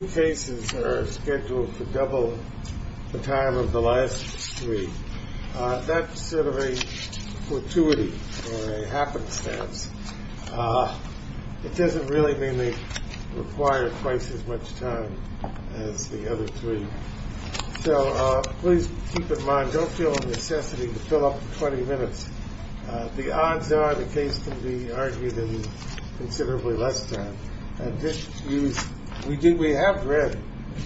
The two cases are scheduled for double the time of the last three. That's sort of a fortuity or a happenstance. It doesn't really mean they require twice as much time as the other three. So please keep in mind, don't feel a necessity to fill up the 20 minutes. The odds are the case can be argued in considerably less time. We have read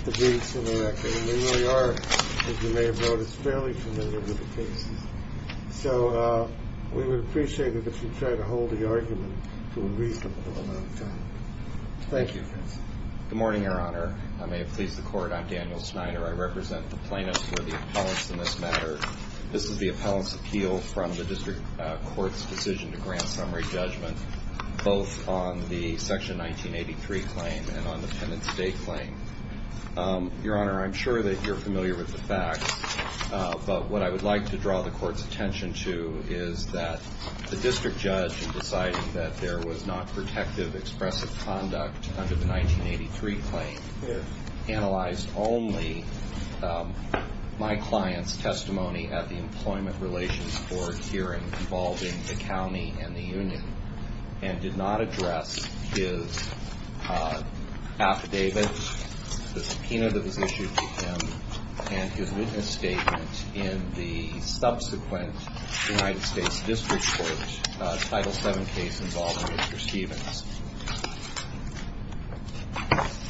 the briefs and the record, and they really are, as you may have noted, fairly familiar with the cases. So we would appreciate it if you'd try to hold the argument to a reasonable amount of time. Thank you. Good morning, Your Honor. I may have pleased the Court. I'm Daniel Snyder. I represent the plaintiffs for the appellants in this matter. This is the appellant's appeal from the district court's decision to grant summary judgment, both on the Section 1983 claim and on the Penance Day claim. Your Honor, I'm sure that you're familiar with the facts, but what I would like to draw the court's attention to is that the district judge, deciding that there was not protective expressive conduct under the 1983 claim, analyzed only my client's testimony at the Employment Relations Board hearing involving the county and the union, and did not address his affidavit, the subpoena that was issued to him, and his witness statement in the subsequent United States District Court Title VII case involving Mr. Stevens.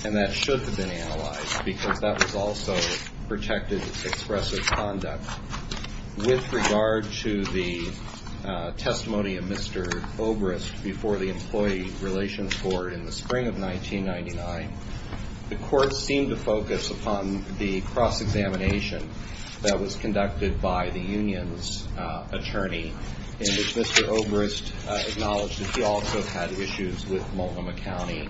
And that should have been analyzed because that was also protective expressive conduct. With regard to the testimony of Mr. Obrist before the Employee Relations Board in the spring of 1999, the court seemed to focus upon the cross-examination that was conducted by the union's attorney, in which Mr. Obrist acknowledged that he also had issues with Multnomah County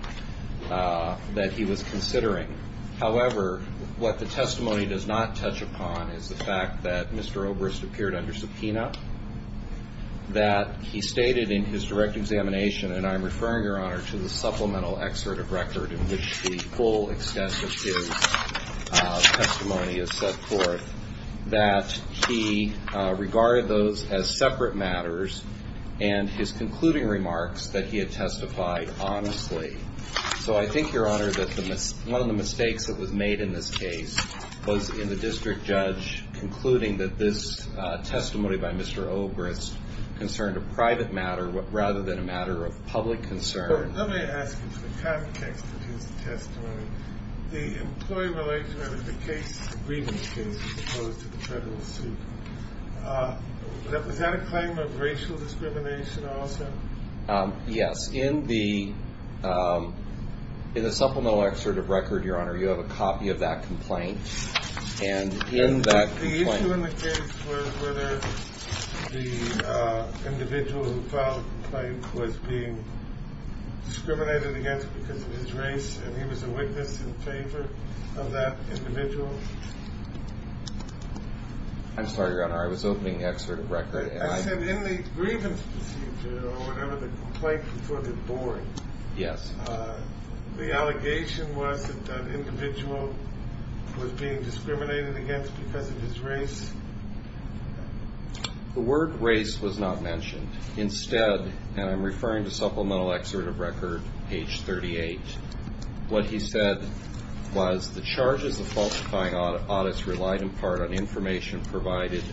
that he was considering. However, what the testimony does not touch upon is the fact that Mr. Obrist appeared under subpoena, that he stated in his direct examination, and I'm referring, Your Honor, to the supplemental excerpt of record in which the full extent of his testimony is set forth, that he regarded those as separate matters, and his concluding remarks that he had testified honestly. So I think, Your Honor, that one of the mistakes that was made in this case was in the district judge concluding that this testimony by Mr. Obrist concerned a private matter rather than a matter of public concern. Let me ask you, in the context of his testimony, the employee relationship, the case agreement case, as opposed to the federal suit, was that a claim of racial discrimination also? Yes. In the supplemental excerpt of record, Your Honor, you have a copy of that complaint. The issue in the case was whether the individual who filed the complaint was being discriminated against because of his race, and he was a witness in favor of that individual. I'm sorry, Your Honor, I was opening the excerpt of record. I said in the grievance procedure, or whatever the complaint was for the board, The allegation was that the individual was being discriminated against because of his race? The word race was not mentioned. Instead, and I'm referring to supplemental excerpt of record, page 38, what he said was the charges of falsifying audits relied in part on information provided,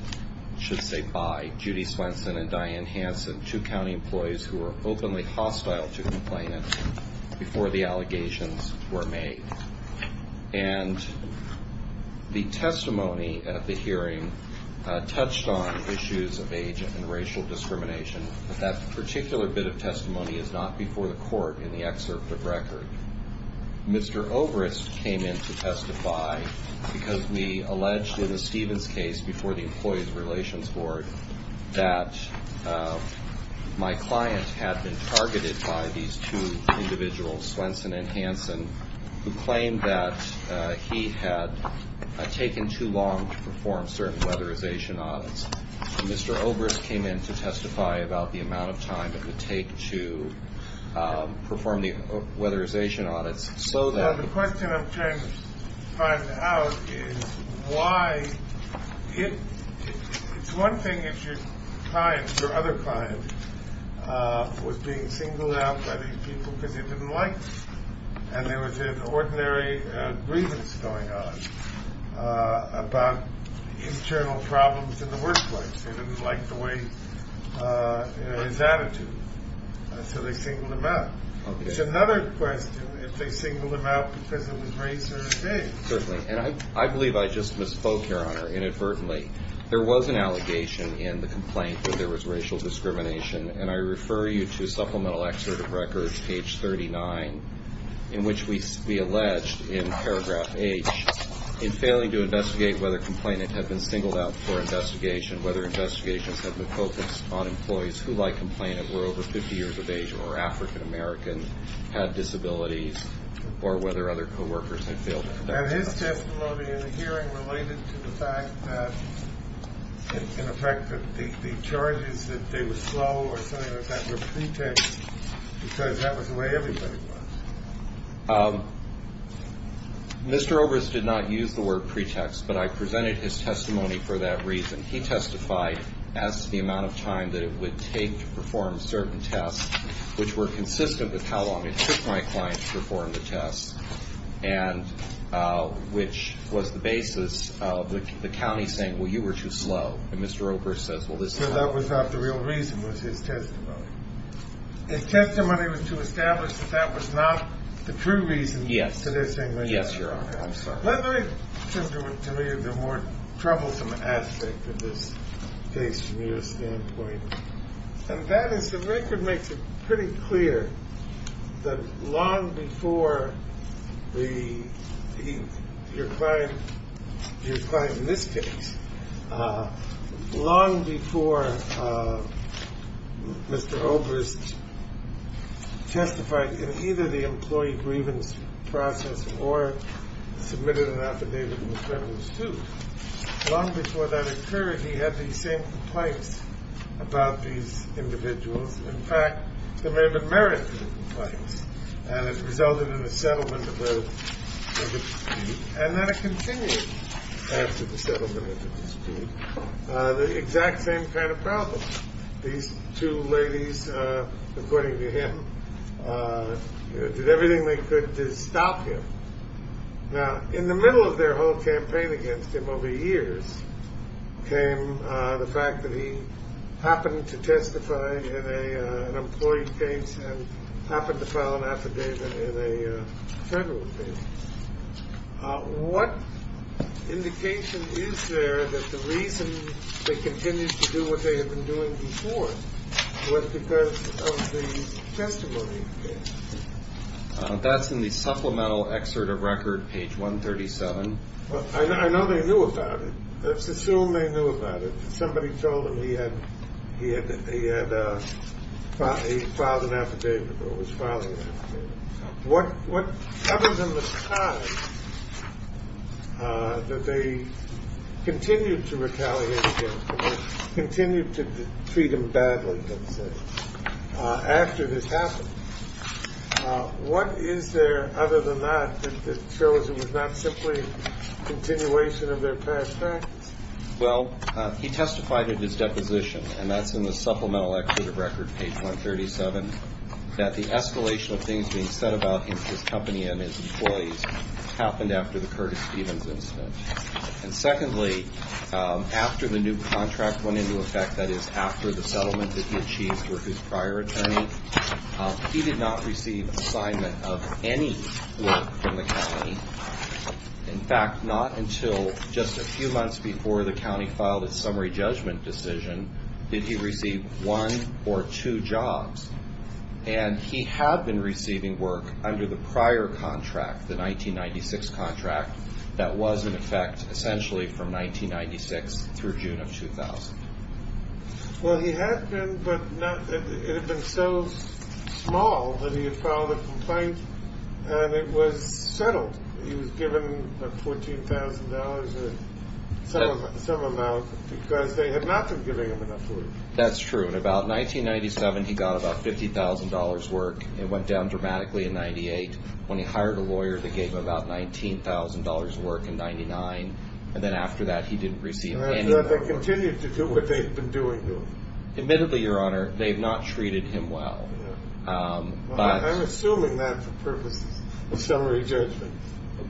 I should say, by Judy Swenson and Diane Hanson, two county employees who were openly hostile to complainants, before the allegations were made. And the testimony at the hearing touched on issues of age and racial discrimination, but that particular bit of testimony is not before the court in the excerpt of record. Mr. Obrist came in to testify because we alleged in the Stevens case before the Employees Relations Board that my client had been targeted by these two individuals, Swenson and Hanson, who claimed that he had taken too long to perform certain weatherization audits. Mr. Obrist came in to testify about the amount of time it would take to perform the weatherization audits. So the question I'm trying to find out is why? It's one thing if your client, your other client, was being singled out by these people because they didn't like them, and there was an ordinary grievance going on about internal problems in the workplace. They didn't like the way, you know, his attitude. So they singled him out. It's another question if they singled him out because of his race or his age. Certainly, and I believe I just misspoke, Your Honor, inadvertently. There was an allegation in the complaint that there was racial discrimination, and I refer you to Supplemental Excerpt of Records, page 39, in which we allege in paragraph H, in failing to investigate whether complainant had been singled out for investigation, whether investigations had been focused on employees who, like complainant, were over 50 years of age or were African-American, had disabilities, or whether other co-workers had failed to protect them. And his testimony in the hearing related to the fact that, in effect, the charges that they were slow or something like that were pretext because that was the way everybody was. Mr. Overs did not use the word pretext, but I presented his testimony for that reason. He testified as to the amount of time that it would take to perform certain tests, which were consistent with how long it took my client to perform the tests. And which was the basis of the county saying, well, you were too slow. And Mr. Overs says, well, this is not true. So that was not the real reason, was his testimony. His testimony was to establish that that was not the true reason for their saying that he was slow. Yes, Your Honor. I'm sorry. Let me turn to the more troublesome aspect of this case from your standpoint. And that is the record makes it pretty clear that long before your client, your client in this case, long before Mr. Overs testified in either the employee grievance process or submitted an affidavit in the criminal suit, long before that occurred, he had the same complaints about these individuals. In fact, there may have been merit to the complaints. And it resulted in a settlement of the dispute. And then it continued after the settlement of the dispute. The exact same kind of problem. These two ladies, according to him, did everything they could to stop him. Now, in the middle of their whole campaign against him over the years, came the fact that he happened to testify in an employee case and happened to file an affidavit in a federal case. What indication is there that the reason they continue to do what they have been doing before was because of the testimony? That's in the supplemental excerpt of record page 137. Well, I know they knew about it. Let's assume they knew about it. Somebody told him he had he had he had a filed an affidavit or was filing. What what other than the fact that they continue to retaliate, continue to treat him badly after this happened. What is there other than that that shows it was not simply a continuation of their past? Well, he testified in his deposition. And that's in the supplemental record, page 137, that the escalation of things being said about his company and his employees happened after the Curtis Stevens incident. And secondly, after the new contract went into effect, that is after the settlement that he achieved with his prior attorney, he did not receive assignment of any work from the company. In fact, not until just a few months before the county filed a summary judgment decision, did he receive one or two jobs. And he had been receiving work under the prior contract, the 1996 contract that was in effect essentially from 1996 through June of 2000. Well, he had been, but it had been so small that he had filed a complaint and it was settled. He was given $14,000. So some of them because they had not been giving him enough. That's true. And about 1997, he got about $50,000 work. It went down dramatically in 98 when he hired a lawyer that gave him about $19,000 work in 99. And then after that, he didn't receive any. They continued to do what they've been doing. Admittedly, Your Honor, they've not treated him well. I'm assuming that for purposes of summary judgment.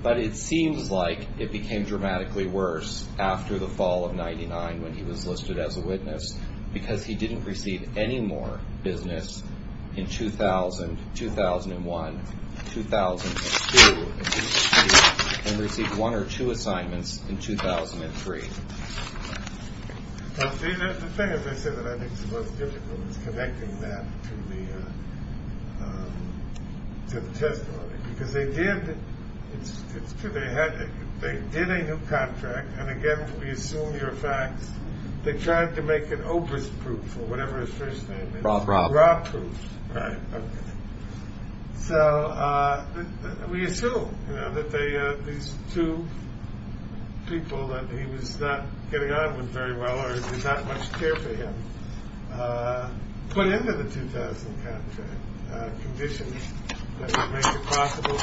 But it seems like it became dramatically worse after the fall of 99 when he was listed as a witness because he didn't receive any more business in 2000, 2001, 2002. And received one or two assignments in 2003. The thing is, I said that I think the most difficult is connecting that to the testimony because they did. It's true. They had they did a new contract. And again, we assume your facts. They tried to make an Oprah's proof or whatever his first name is. Right. So we assume that these two people that he was not getting on with very well or not much care for him. Put into the 2000 conditions that make it possible.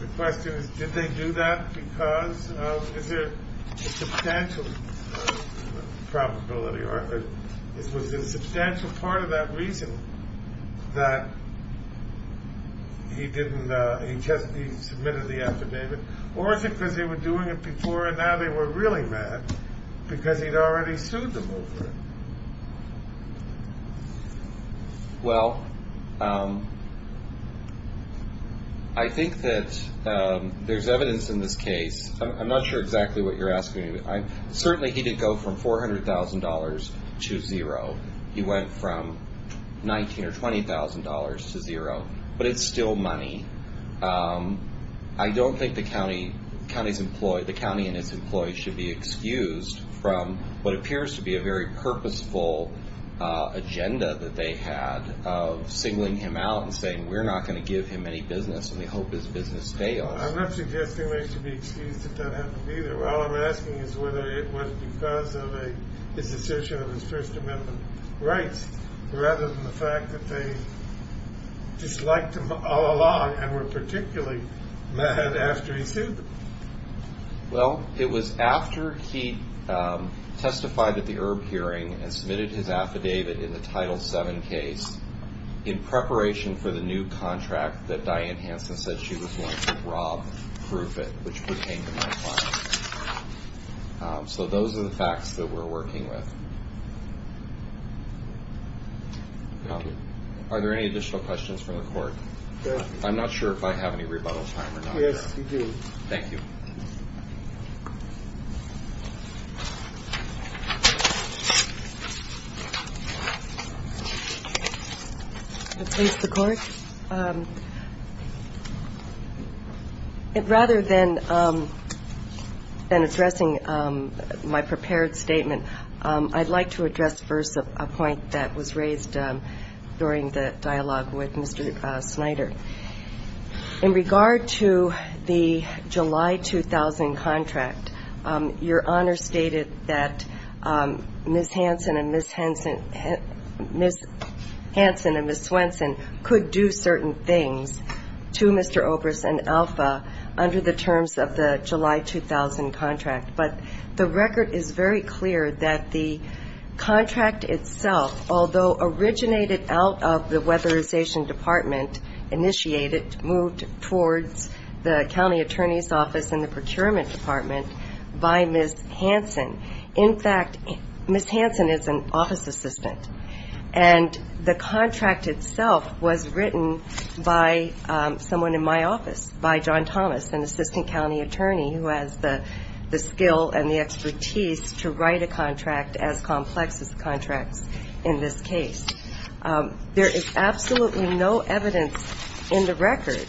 The question is, did they do that because there is a substantial probability. This was a substantial part of that reason that he didn't. He just submitted the affidavit. Or is it because they were doing it before? And now they were really mad because he'd already sued them. Well. I think that there's evidence in this case. I'm not sure exactly what you're asking. I certainly didn't go from four hundred thousand dollars to zero. He went from 19 or 20 thousand dollars to zero. But it's still money. I don't think the county county's employee, the county and its employees should be excused from what appears to be a very purposeful agenda that they had of signaling him out and saying we're not going to give him any business. And we hope his business fails. I'm not suggesting they should be excused. Well, I'm asking is whether it was because of his assertion of his First Amendment rights rather than the fact that they just liked him all along and were particularly mad after he sued. Well, it was after he testified at the hearing and submitted his affidavit in the title seven case in preparation for the new contract that Diane Hansen said she was going to rob. Proof it. So those are the facts that we're working with. Are there any additional questions from the court? I'm not sure if I have any rebuttal time. Thank you. The court. Rather than than addressing my prepared statement, I'd like to address first a point that was raised during the dialogue with Mr. Snyder. In regard to the July 2000 contract, your Honor stated that Ms. Hansen and Ms. Swenson could do certain things to Mr. Obrist and Alpha under the terms of the July 2000 contract. But the record is very clear that the contract itself, although originated out of the weatherization department, initiated, moved towards the county attorney's office and the procurement department by Ms. Hansen. In fact, Ms. Hansen is an office assistant, and the contract itself was written by someone in my office, by John Thomas, an assistant county attorney, who has the skill and the expertise to write a contract as complex as the contracts in this case. There is absolutely no evidence in the record,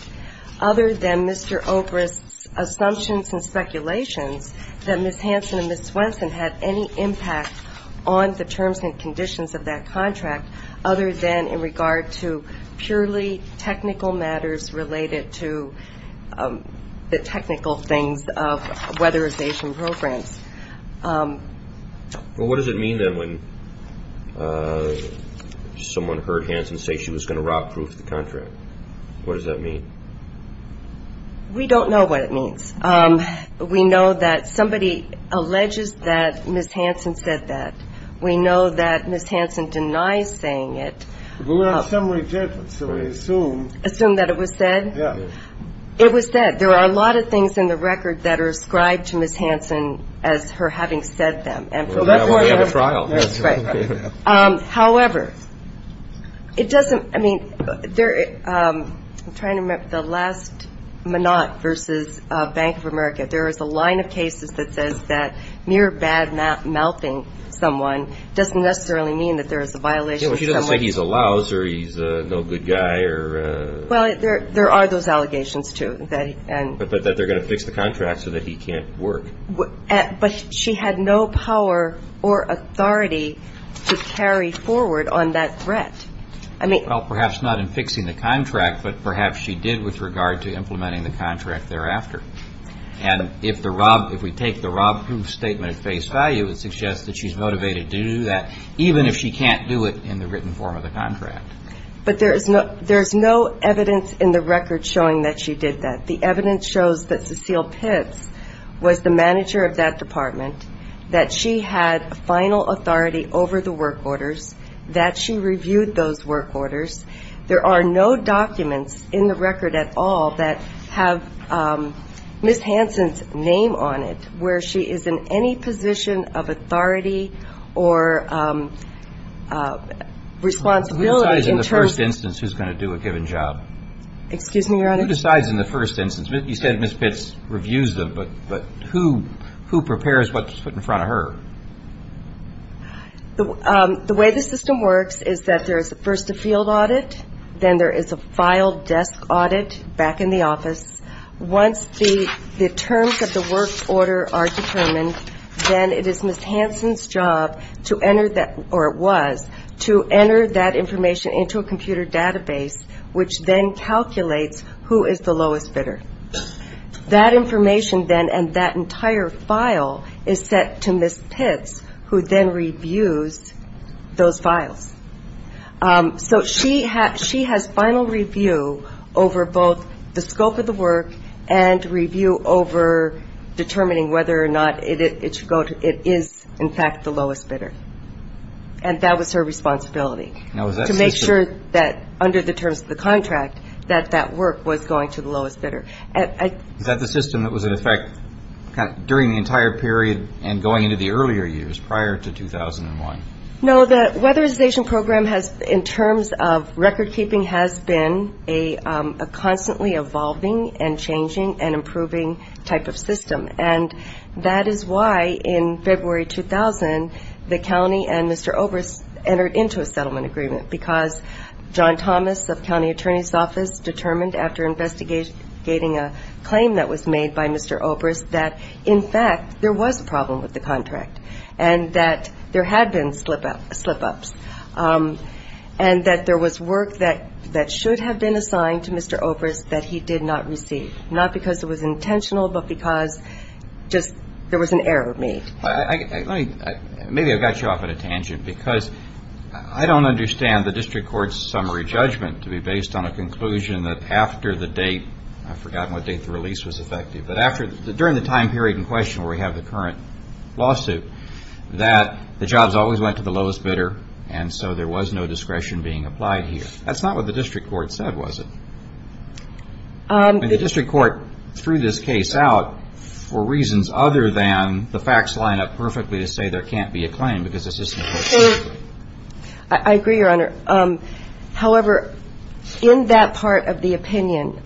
other than Mr. Obrist's assumptions and speculations, that Ms. Hansen and Ms. Swenson had any impact on the terms and conditions of that contract, other than in regard to purely technical matters related to the technical things of weatherization programs. Well, what does it mean, then, when someone heard Hansen say she was going to rock-proof the contract? What does that mean? We don't know what it means. We know that somebody alleges that Ms. Hansen said that. We know that Ms. Hansen denies saying it. But we have some rejection, so we assume. Assume that it was said? Yeah. It was said. There are a lot of things in the record that are ascribed to Ms. Hansen as her having said them. Well, that's why we have a trial. That's right. However, it doesn't – I mean, there – I'm trying to remember. There is a line of cases that says that mere bad-mouthing someone doesn't necessarily mean that there is a violation. Yeah, well, she doesn't say he's a louser, he's no good guy, or – Well, there are those allegations, too, that – But that they're going to fix the contract so that he can't work. But she had no power or authority to carry forward on that threat. I mean – Well, perhaps not in fixing the contract, but perhaps she did with regard to implementing the contract thereafter. And if the – if we take the rob-proof statement at face value, it suggests that she's motivated to do that, even if she can't do it in the written form of the contract. But there is no evidence in the record showing that she did that. The evidence shows that Cecile Pitts was the manager of that department, that she had final authority over the work orders, that she reviewed those work orders. There are no documents in the record at all that have Ms. Hansen's name on it, where she is in any position of authority or responsibility in terms of – Who decides in the first instance who's going to do a given job? Excuse me, Your Honor? Who decides in the first instance? You said Ms. Pitts reviews them, but who prepares what's put in front of her? The way the system works is that there is first a field audit, then there is a file desk audit back in the office. Once the terms of the work order are determined, then it is Ms. Hansen's job to enter that – Who is the lowest bidder? That information then and that entire file is set to Ms. Pitts, who then reviews those files. So she has final review over both the scope of the work and review over determining whether or not it is in fact the lowest bidder. And that was her responsibility, to make sure that under the terms of the contract, that that work was going to the lowest bidder. Is that the system that was in effect during the entire period and going into the earlier years, prior to 2001? No, the weatherization program has, in terms of record keeping, has been a constantly evolving and changing and improving type of system. And that is why in February 2000, the county and Mr. Obrist entered into a settlement agreement, because John Thomas of county attorney's office determined after investigating a claim that was made by Mr. Obrist, that in fact there was a problem with the contract and that there had been slip-ups and that there was work that should have been assigned to Mr. Obrist that he did not receive. Not because it was intentional, but because just there was an error made. Maybe I've got you off on a tangent, because I don't understand the district court's summary judgment to be based on a conclusion that after the date, I've forgotten what date the release was effective, but during the time period in question where we have the current lawsuit, that the jobs always went to the lowest bidder and so there was no discretion being applied here. That's not what the district court said, was it? The district court threw this case out for reasons other than the facts line up perfectly to say there can't be a claim. I agree, Your Honor. However, in that part of the opinion,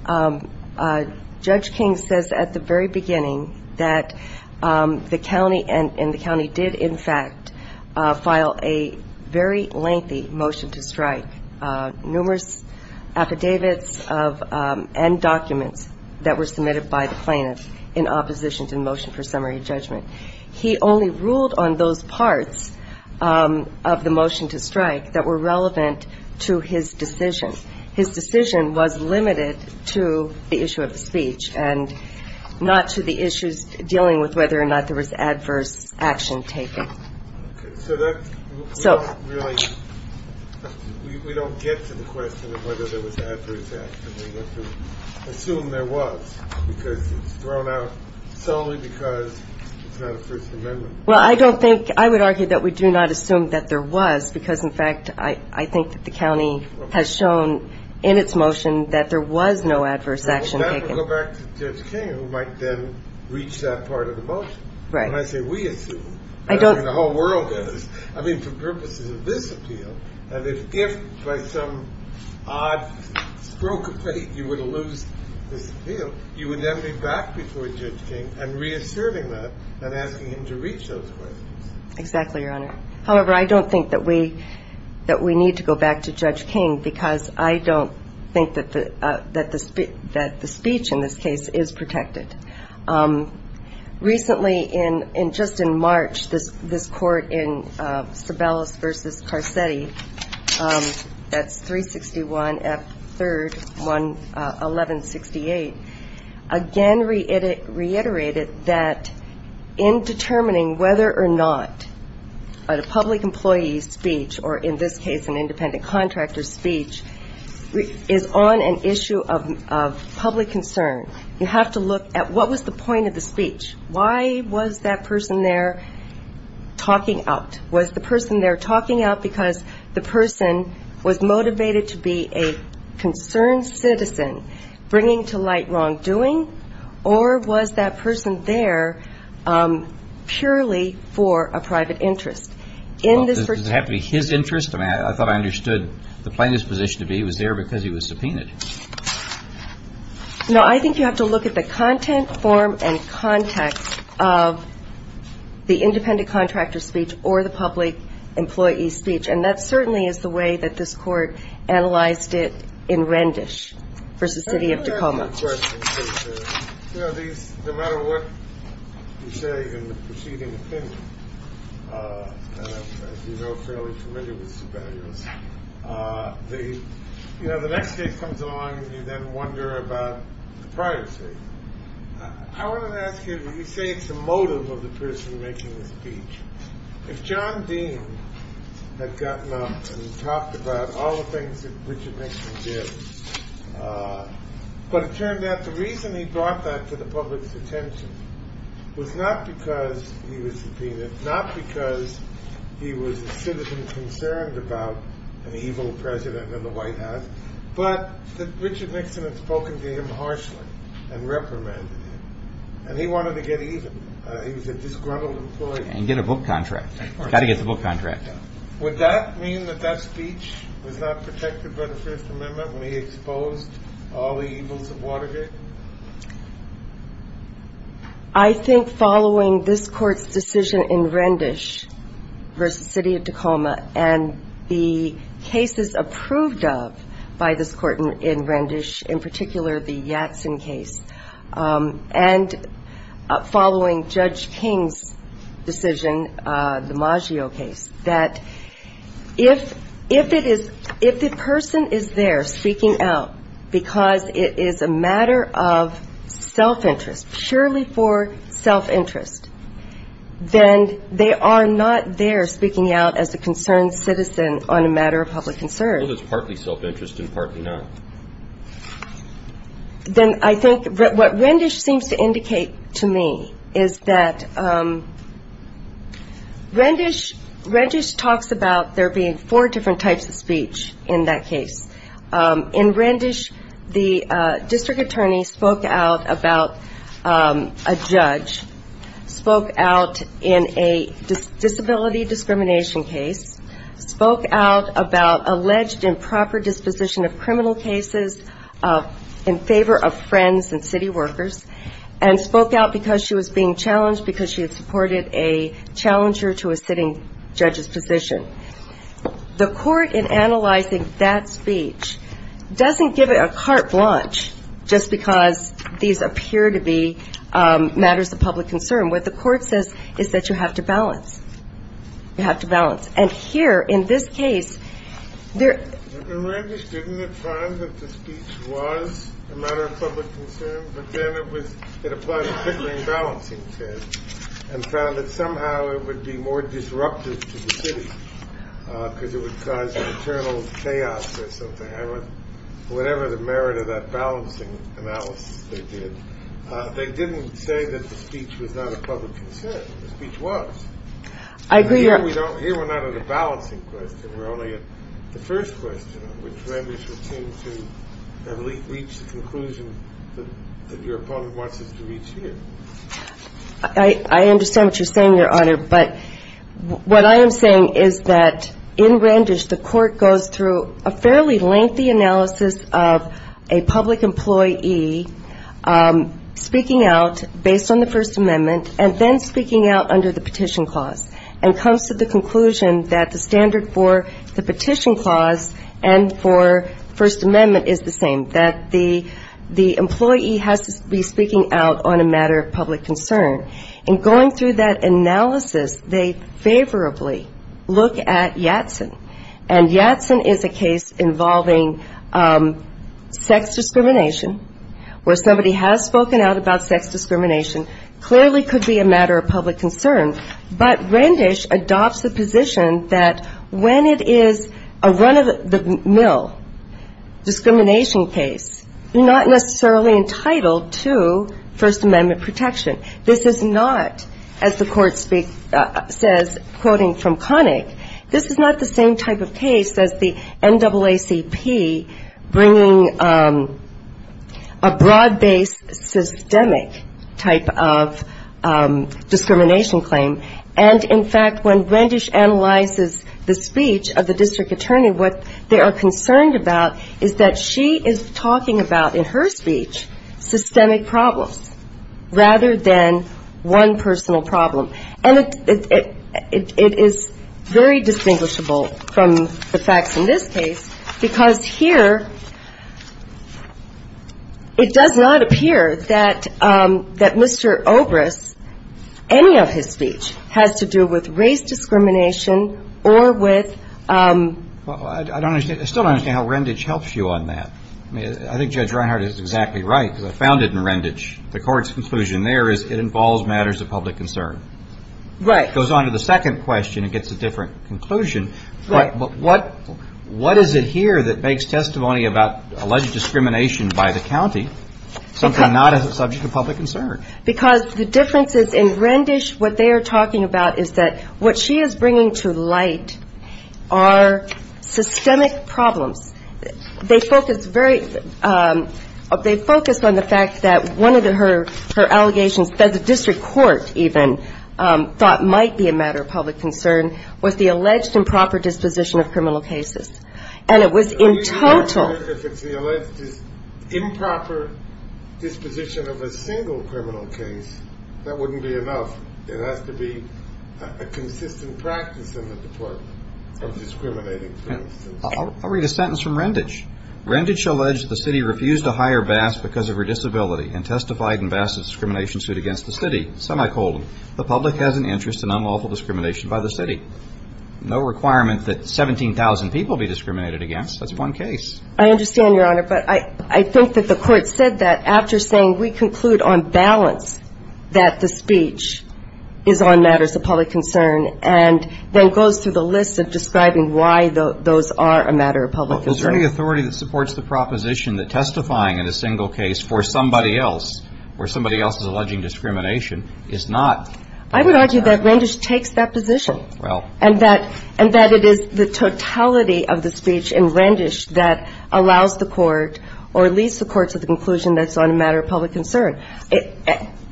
Judge King says at the very beginning that the county and the county did in fact file a very lengthy motion to strike. Numerous affidavits and documents that were submitted by the plaintiff in opposition to the motion for summary judgment. He only ruled on those parts of the motion to strike that were relevant to his decision. His decision was limited to the issue of the speech and not to the issues dealing with whether or not there was adverse action taken. So that's really, we don't get to the question of whether there was adverse action. We have to assume there was because it's thrown out solely because it's not a First Amendment. Well, I don't think, I would argue that we do not assume that there was because in fact, I think that the county has shown in its motion that there was no adverse action taken. We'll go back to Judge King who might then reach that part of the motion. When I say we assume, I don't mean the whole world does. I mean for purposes of this appeal. And if by some odd stroke of fate you were to lose this appeal, you would then be back before Judge King and reasserting that and asking him to reach those questions. Exactly, Your Honor. However, I don't think that we need to go back to Judge King because I don't think that the speech in this case is protected. Recently in, just in March, this court in Sebelius v. Carcetti, that's 361 F. 3rd, 1168, again reiterated that in determining whether or not a public employee's speech, or in this case an independent contractor's speech, is on an issue of public concern, you have to look at what was the point of the speech. Why was that person there talking out? Was the person there talking out because the person was motivated to be a concerned citizen, bringing to light wrongdoing, or was that person there purely for a private interest? Well, does it have to be his interest? I thought I understood the plaintiff's position to be he was there because he was subpoenaed. No, I think you have to look at the content, form, and context of the independent contractor's speech or the public employee's speech, and that certainly is the way that this court analyzed it in Rendish v. City of Tacoma. Let me ask you a question, please. You know, these, no matter what you say in the preceding opinion, as you know, I'm fairly familiar with superiors. You know, the next case comes along and you then wonder about the privacy. I wanted to ask you, you say it's the motive of the person making the speech. If John Dean had gotten up and talked about all the things that Richard Nixon did, but it turned out the reason he brought that to the public's attention was not because he was subpoenaed, not because he was a citizen concerned about an evil president in the White House, but that Richard Nixon had spoken to him harshly and reprimanded him, and he wanted to get even. He was a disgruntled employee. And get a book contract. Of course. He's got to get the book contract. Would that mean that that speech was not protected by the Fifth Amendment when he exposed all the evils of Watergate? I think following this Court's decision in Rendish v. City of Tacoma, and the cases approved of by this Court in Rendish, in particular the Yatsen case, and following Judge King's decision, the Maggio case, that if it is, if the person is there speaking out because it is a matter of self-interest, purely for self-interest, then they are not there speaking out as a concerned citizen on a matter of public concern. Well, it's partly self-interest and partly not. Then I think what Rendish seems to indicate to me is that Rendish talks about there being four different types of speech. In that case, in Rendish, the district attorney spoke out about a judge, spoke out in a disability discrimination case, spoke out about alleged improper disposition of criminal cases in favor of friends and city workers, and spoke out because she was being challenged because she had supported a challenger to a sitting judge's position. The Court, in analyzing that speech, doesn't give it a carte blanche just because these appear to be matters of public concern. What the Court says is that you have to balance. You have to balance. And here, in this case, there — In Rendish, didn't it find that the speech was a matter of public concern, but then it applied a tickling balancing test and found that somehow it would be more disruptive to the city because it would cause an internal chaos or something. Whatever the merit of that balancing analysis they did, they didn't say that the speech was not a public concern. The speech was. Here we're not at a balancing question. We're only at the first question, which Rendish would seem to have reached the conclusion that your opponent wants us to reach here. I understand what you're saying, Your Honor. But what I am saying is that in Rendish, the Court goes through a fairly lengthy analysis of a public employee speaking out based on the First Amendment and then speaking out under the Petition Clause, and comes to the conclusion that the standard for the Petition Clause and for First Amendment is the same, that the employee has to be speaking out on a matter of public concern. In going through that analysis, they favorably look at Yatsen. And Yatsen is a case involving sex discrimination, where somebody has spoken out about sex discrimination, clearly could be a matter of public concern. But Rendish adopts the position that when it is a run-of-the-mill discrimination case, you're not necessarily entitled to First Amendment protection. This is not, as the Court says, quoting from Connick, this is not the same type of case as the NAACP bringing a broad-based systemic type of discrimination claim. And, in fact, when Rendish analyzes the speech of the district attorney, what they are concerned about is that she is talking about in her speech systemic problems rather than one personal problem. And it is very distinguishable from the facts in this case because here it does not appear that Mr. Obrist, any of his speech has to do with race discrimination or with ‑‑ Well, I don't understand. I still don't understand how Rendish helps you on that. I think Judge Reinhart is exactly right because I found it in Rendish. The Court's conclusion there is it involves matters of public concern. Right. It goes on to the second question and gets a different conclusion. Right. But what is it here that makes testimony about alleged discrimination by the county something not a subject of public concern? Because the difference is in Rendish what they are talking about is that what she is bringing to light are systemic problems. They focus on the fact that one of her allegations that the district court even thought might be a matter of public concern was the alleged improper disposition of criminal cases. And it was in total ‑‑ If it's the alleged improper disposition of a single criminal case, that wouldn't be enough. It has to be a consistent practice in the Department of discriminating. I'll read a sentence from Rendish. Rendish alleged the city refused to hire Bass because of her disability and testified in Bass' discrimination suit against the city. Semicolon. The public has an interest in unlawful discrimination by the city. No requirement that 17,000 people be discriminated against. That's one case. I understand, Your Honor. But I think that the Court said that after saying we conclude on balance that the speech is on matters of public concern and then goes through the list of describing why those are a matter of public concern. Well, is there any authority that supports the proposition that testifying in a single case for somebody else or somebody else's alleging discrimination is not ‑‑ I would argue that Rendish takes that position. Well. And that it is the totality of the speech in Rendish that allows the Court or leads the Court to the conclusion that it's on a matter of public concern.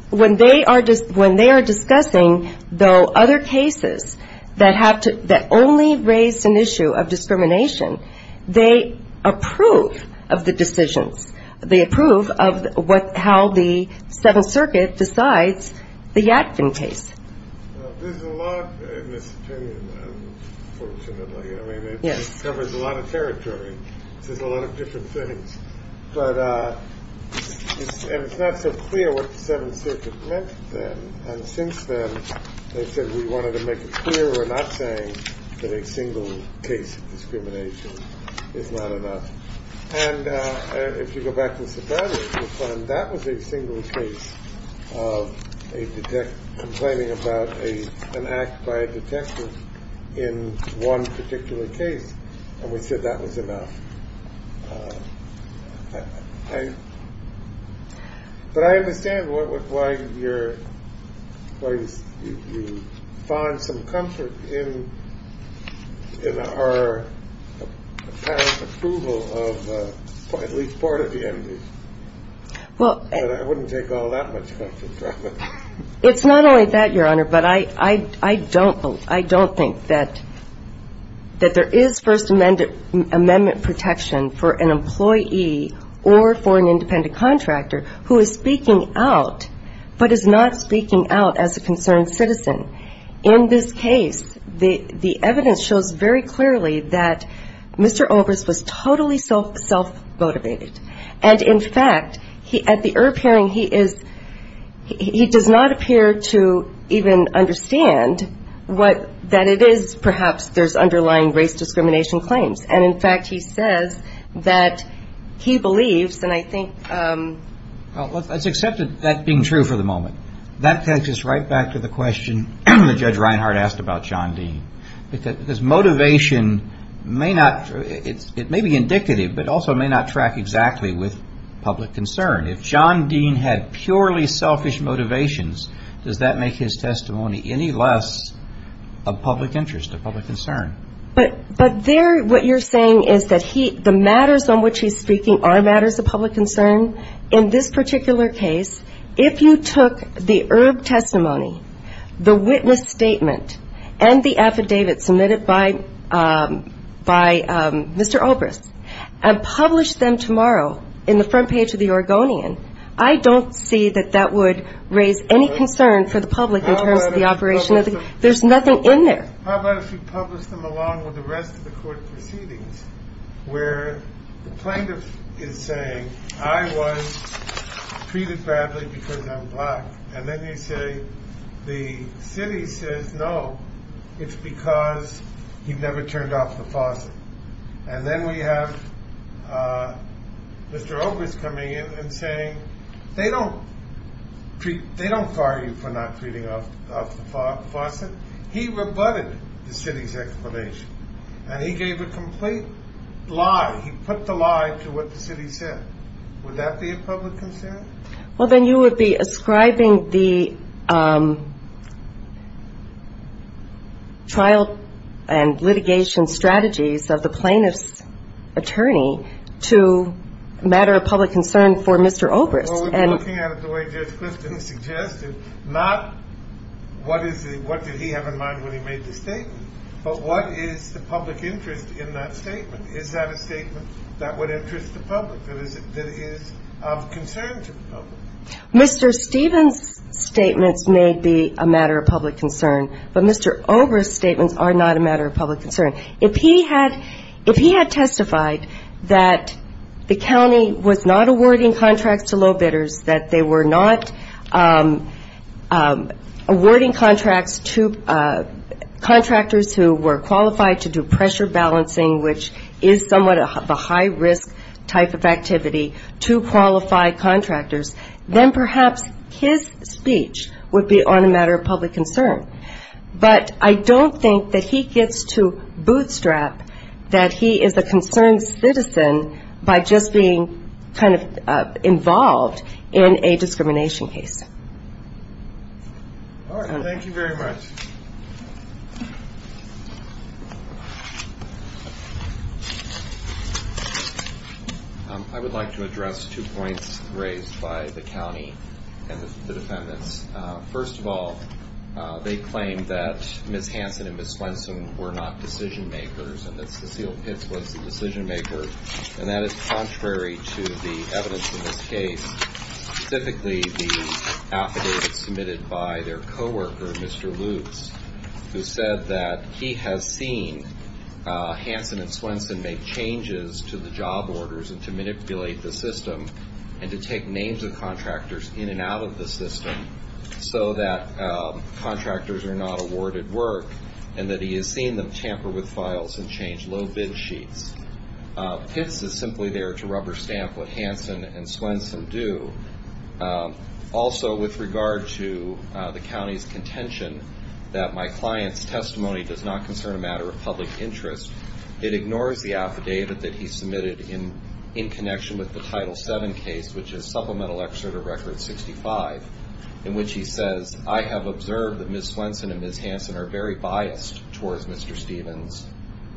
When they are discussing, though, other cases that only raise an issue of discrimination, they approve of the decisions. They approve of how the Seventh Circuit decides the Yadvin case. There's a lot in this opinion, unfortunately. Yes. I mean, it covers a lot of territory. It says a lot of different things. But it's not so clear what the Seventh Circuit meant then. And since then, they said we wanted to make it clear we're not saying that a single case of discrimination is not enough. And if you go back to the subpoena, you'll find that was a single case of a detective complaining about an act by a detective in one particular case. And we said that was enough. But I understand why you find some comfort in our apparent approval of at least part of the entries. But I wouldn't take all that much comfort from it. It's not only that, Your Honor. But I don't think that there is First Amendment protection for an employee or for an independent contractor who is speaking out but is not speaking out as a concerned citizen. In this case, the evidence shows very clearly that Mr. Obrist was totally self-motivated. And, in fact, at the EIRB hearing, he is he does not appear to even understand what that it is perhaps there's underlying race discrimination claims. And, in fact, he says that he believes and I think. Well, let's accept that being true for the moment. That takes us right back to the question that Judge Reinhart asked about John Dean. Because motivation may not it may be indicative but also may not track exactly with public concern. If John Dean had purely selfish motivations, does that make his testimony any less of public interest, of public concern? But there what you're saying is that the matters on which he's speaking are matters of public concern. In this particular case, if you took the EIRB testimony, the witness statement, and the affidavit submitted by Mr. Obrist and published them tomorrow in the front page of the Oregonian, I don't see that that would raise any concern for the public in terms of the operation. There's nothing in there. How about if you publish them along with the rest of the court proceedings where the plaintiff is saying, I was treated badly because I'm black. And then you say the city says, no, it's because he never turned off the faucet. And then we have Mr. Obrist coming in and saying, they don't treat. They don't fire you for not treating off the faucet. He rebutted the city's explanation, and he gave a complete lie. He put the lie to what the city said. Would that be a public concern? Well, then you would be ascribing the trial and litigation strategies of the plaintiff's attorney to a matter of public concern for Mr. Obrist. Well, we're looking at it the way Judge Clifton suggested, not what did he have in mind when he made the statement, but what is the public interest in that statement? Is that a statement that would interest the public, that is of concern to the public? Mr. Stevens' statements may be a matter of public concern, but Mr. Obrist's statements are not a matter of public concern. If he had testified that the county was not awarding contracts to low bidders, that they were not awarding contracts to contractors who were qualified to do pressure balancing, which is somewhat of a high-risk type of activity, to qualified contractors, then perhaps his speech would be on a matter of public concern. But I don't think that he gets to bootstrap that he is a concerned citizen by just being kind of involved in a discrimination case. All right. Thank you very much. I would like to address two points raised by the county and the defendants. First of all, they claim that Ms. Hansen and Ms. Swenson were not decision-makers and that Cecile Pitts was the decision-maker, and that is contrary to the evidence in this case, specifically the affidavit submitted by their coworker, Mr. Lutz, who said that he has seen Hansen and Swenson make changes to the job orders and to manipulate the system and to take names of contractors in and out of the system so that contractors are not awarded work and that he has seen them tamper with files and change low bid sheets. Pitts is simply there to rubber stamp what Hansen and Swenson do. Also, with regard to the county's contention that my client's testimony does not concern a matter of public interest, it ignores the affidavit that he submitted in connection with the Title VII case, which is Supplemental Excerpt of Record 65, in which he says, I have observed that Ms. Swenson and Ms. Hansen are very biased towards Mr. Stevens.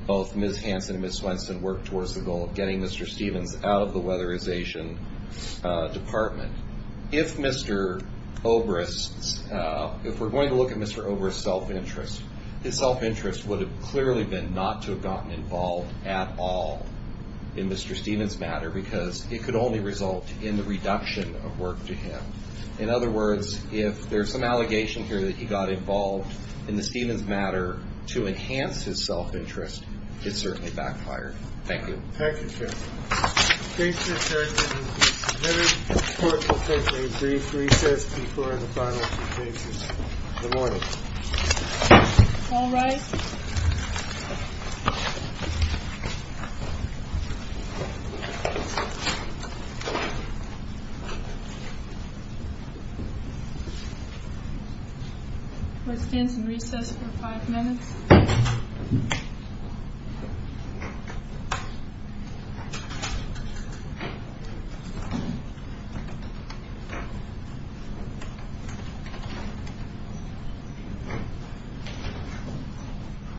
Both Ms. Hansen and Ms. Swenson work towards the goal of getting Mr. Stevens out of the weatherization department. If Mr. Obrist's, if we're going to look at Mr. Obrist's self-interest, his self-interest would have clearly been not to have gotten involved at all in Mr. Stevens' matter because it could only result in the reduction of work to him. In other words, if there's some allegation here that he got involved in the Stevens' matter to enhance his self-interest, it certainly backfired. Thank you. Thank you, sir. Thank you, sir. It is very important to take a brief recess before the final two cases. Good morning. All rise. We'll stand in recess for five minutes. Thank you.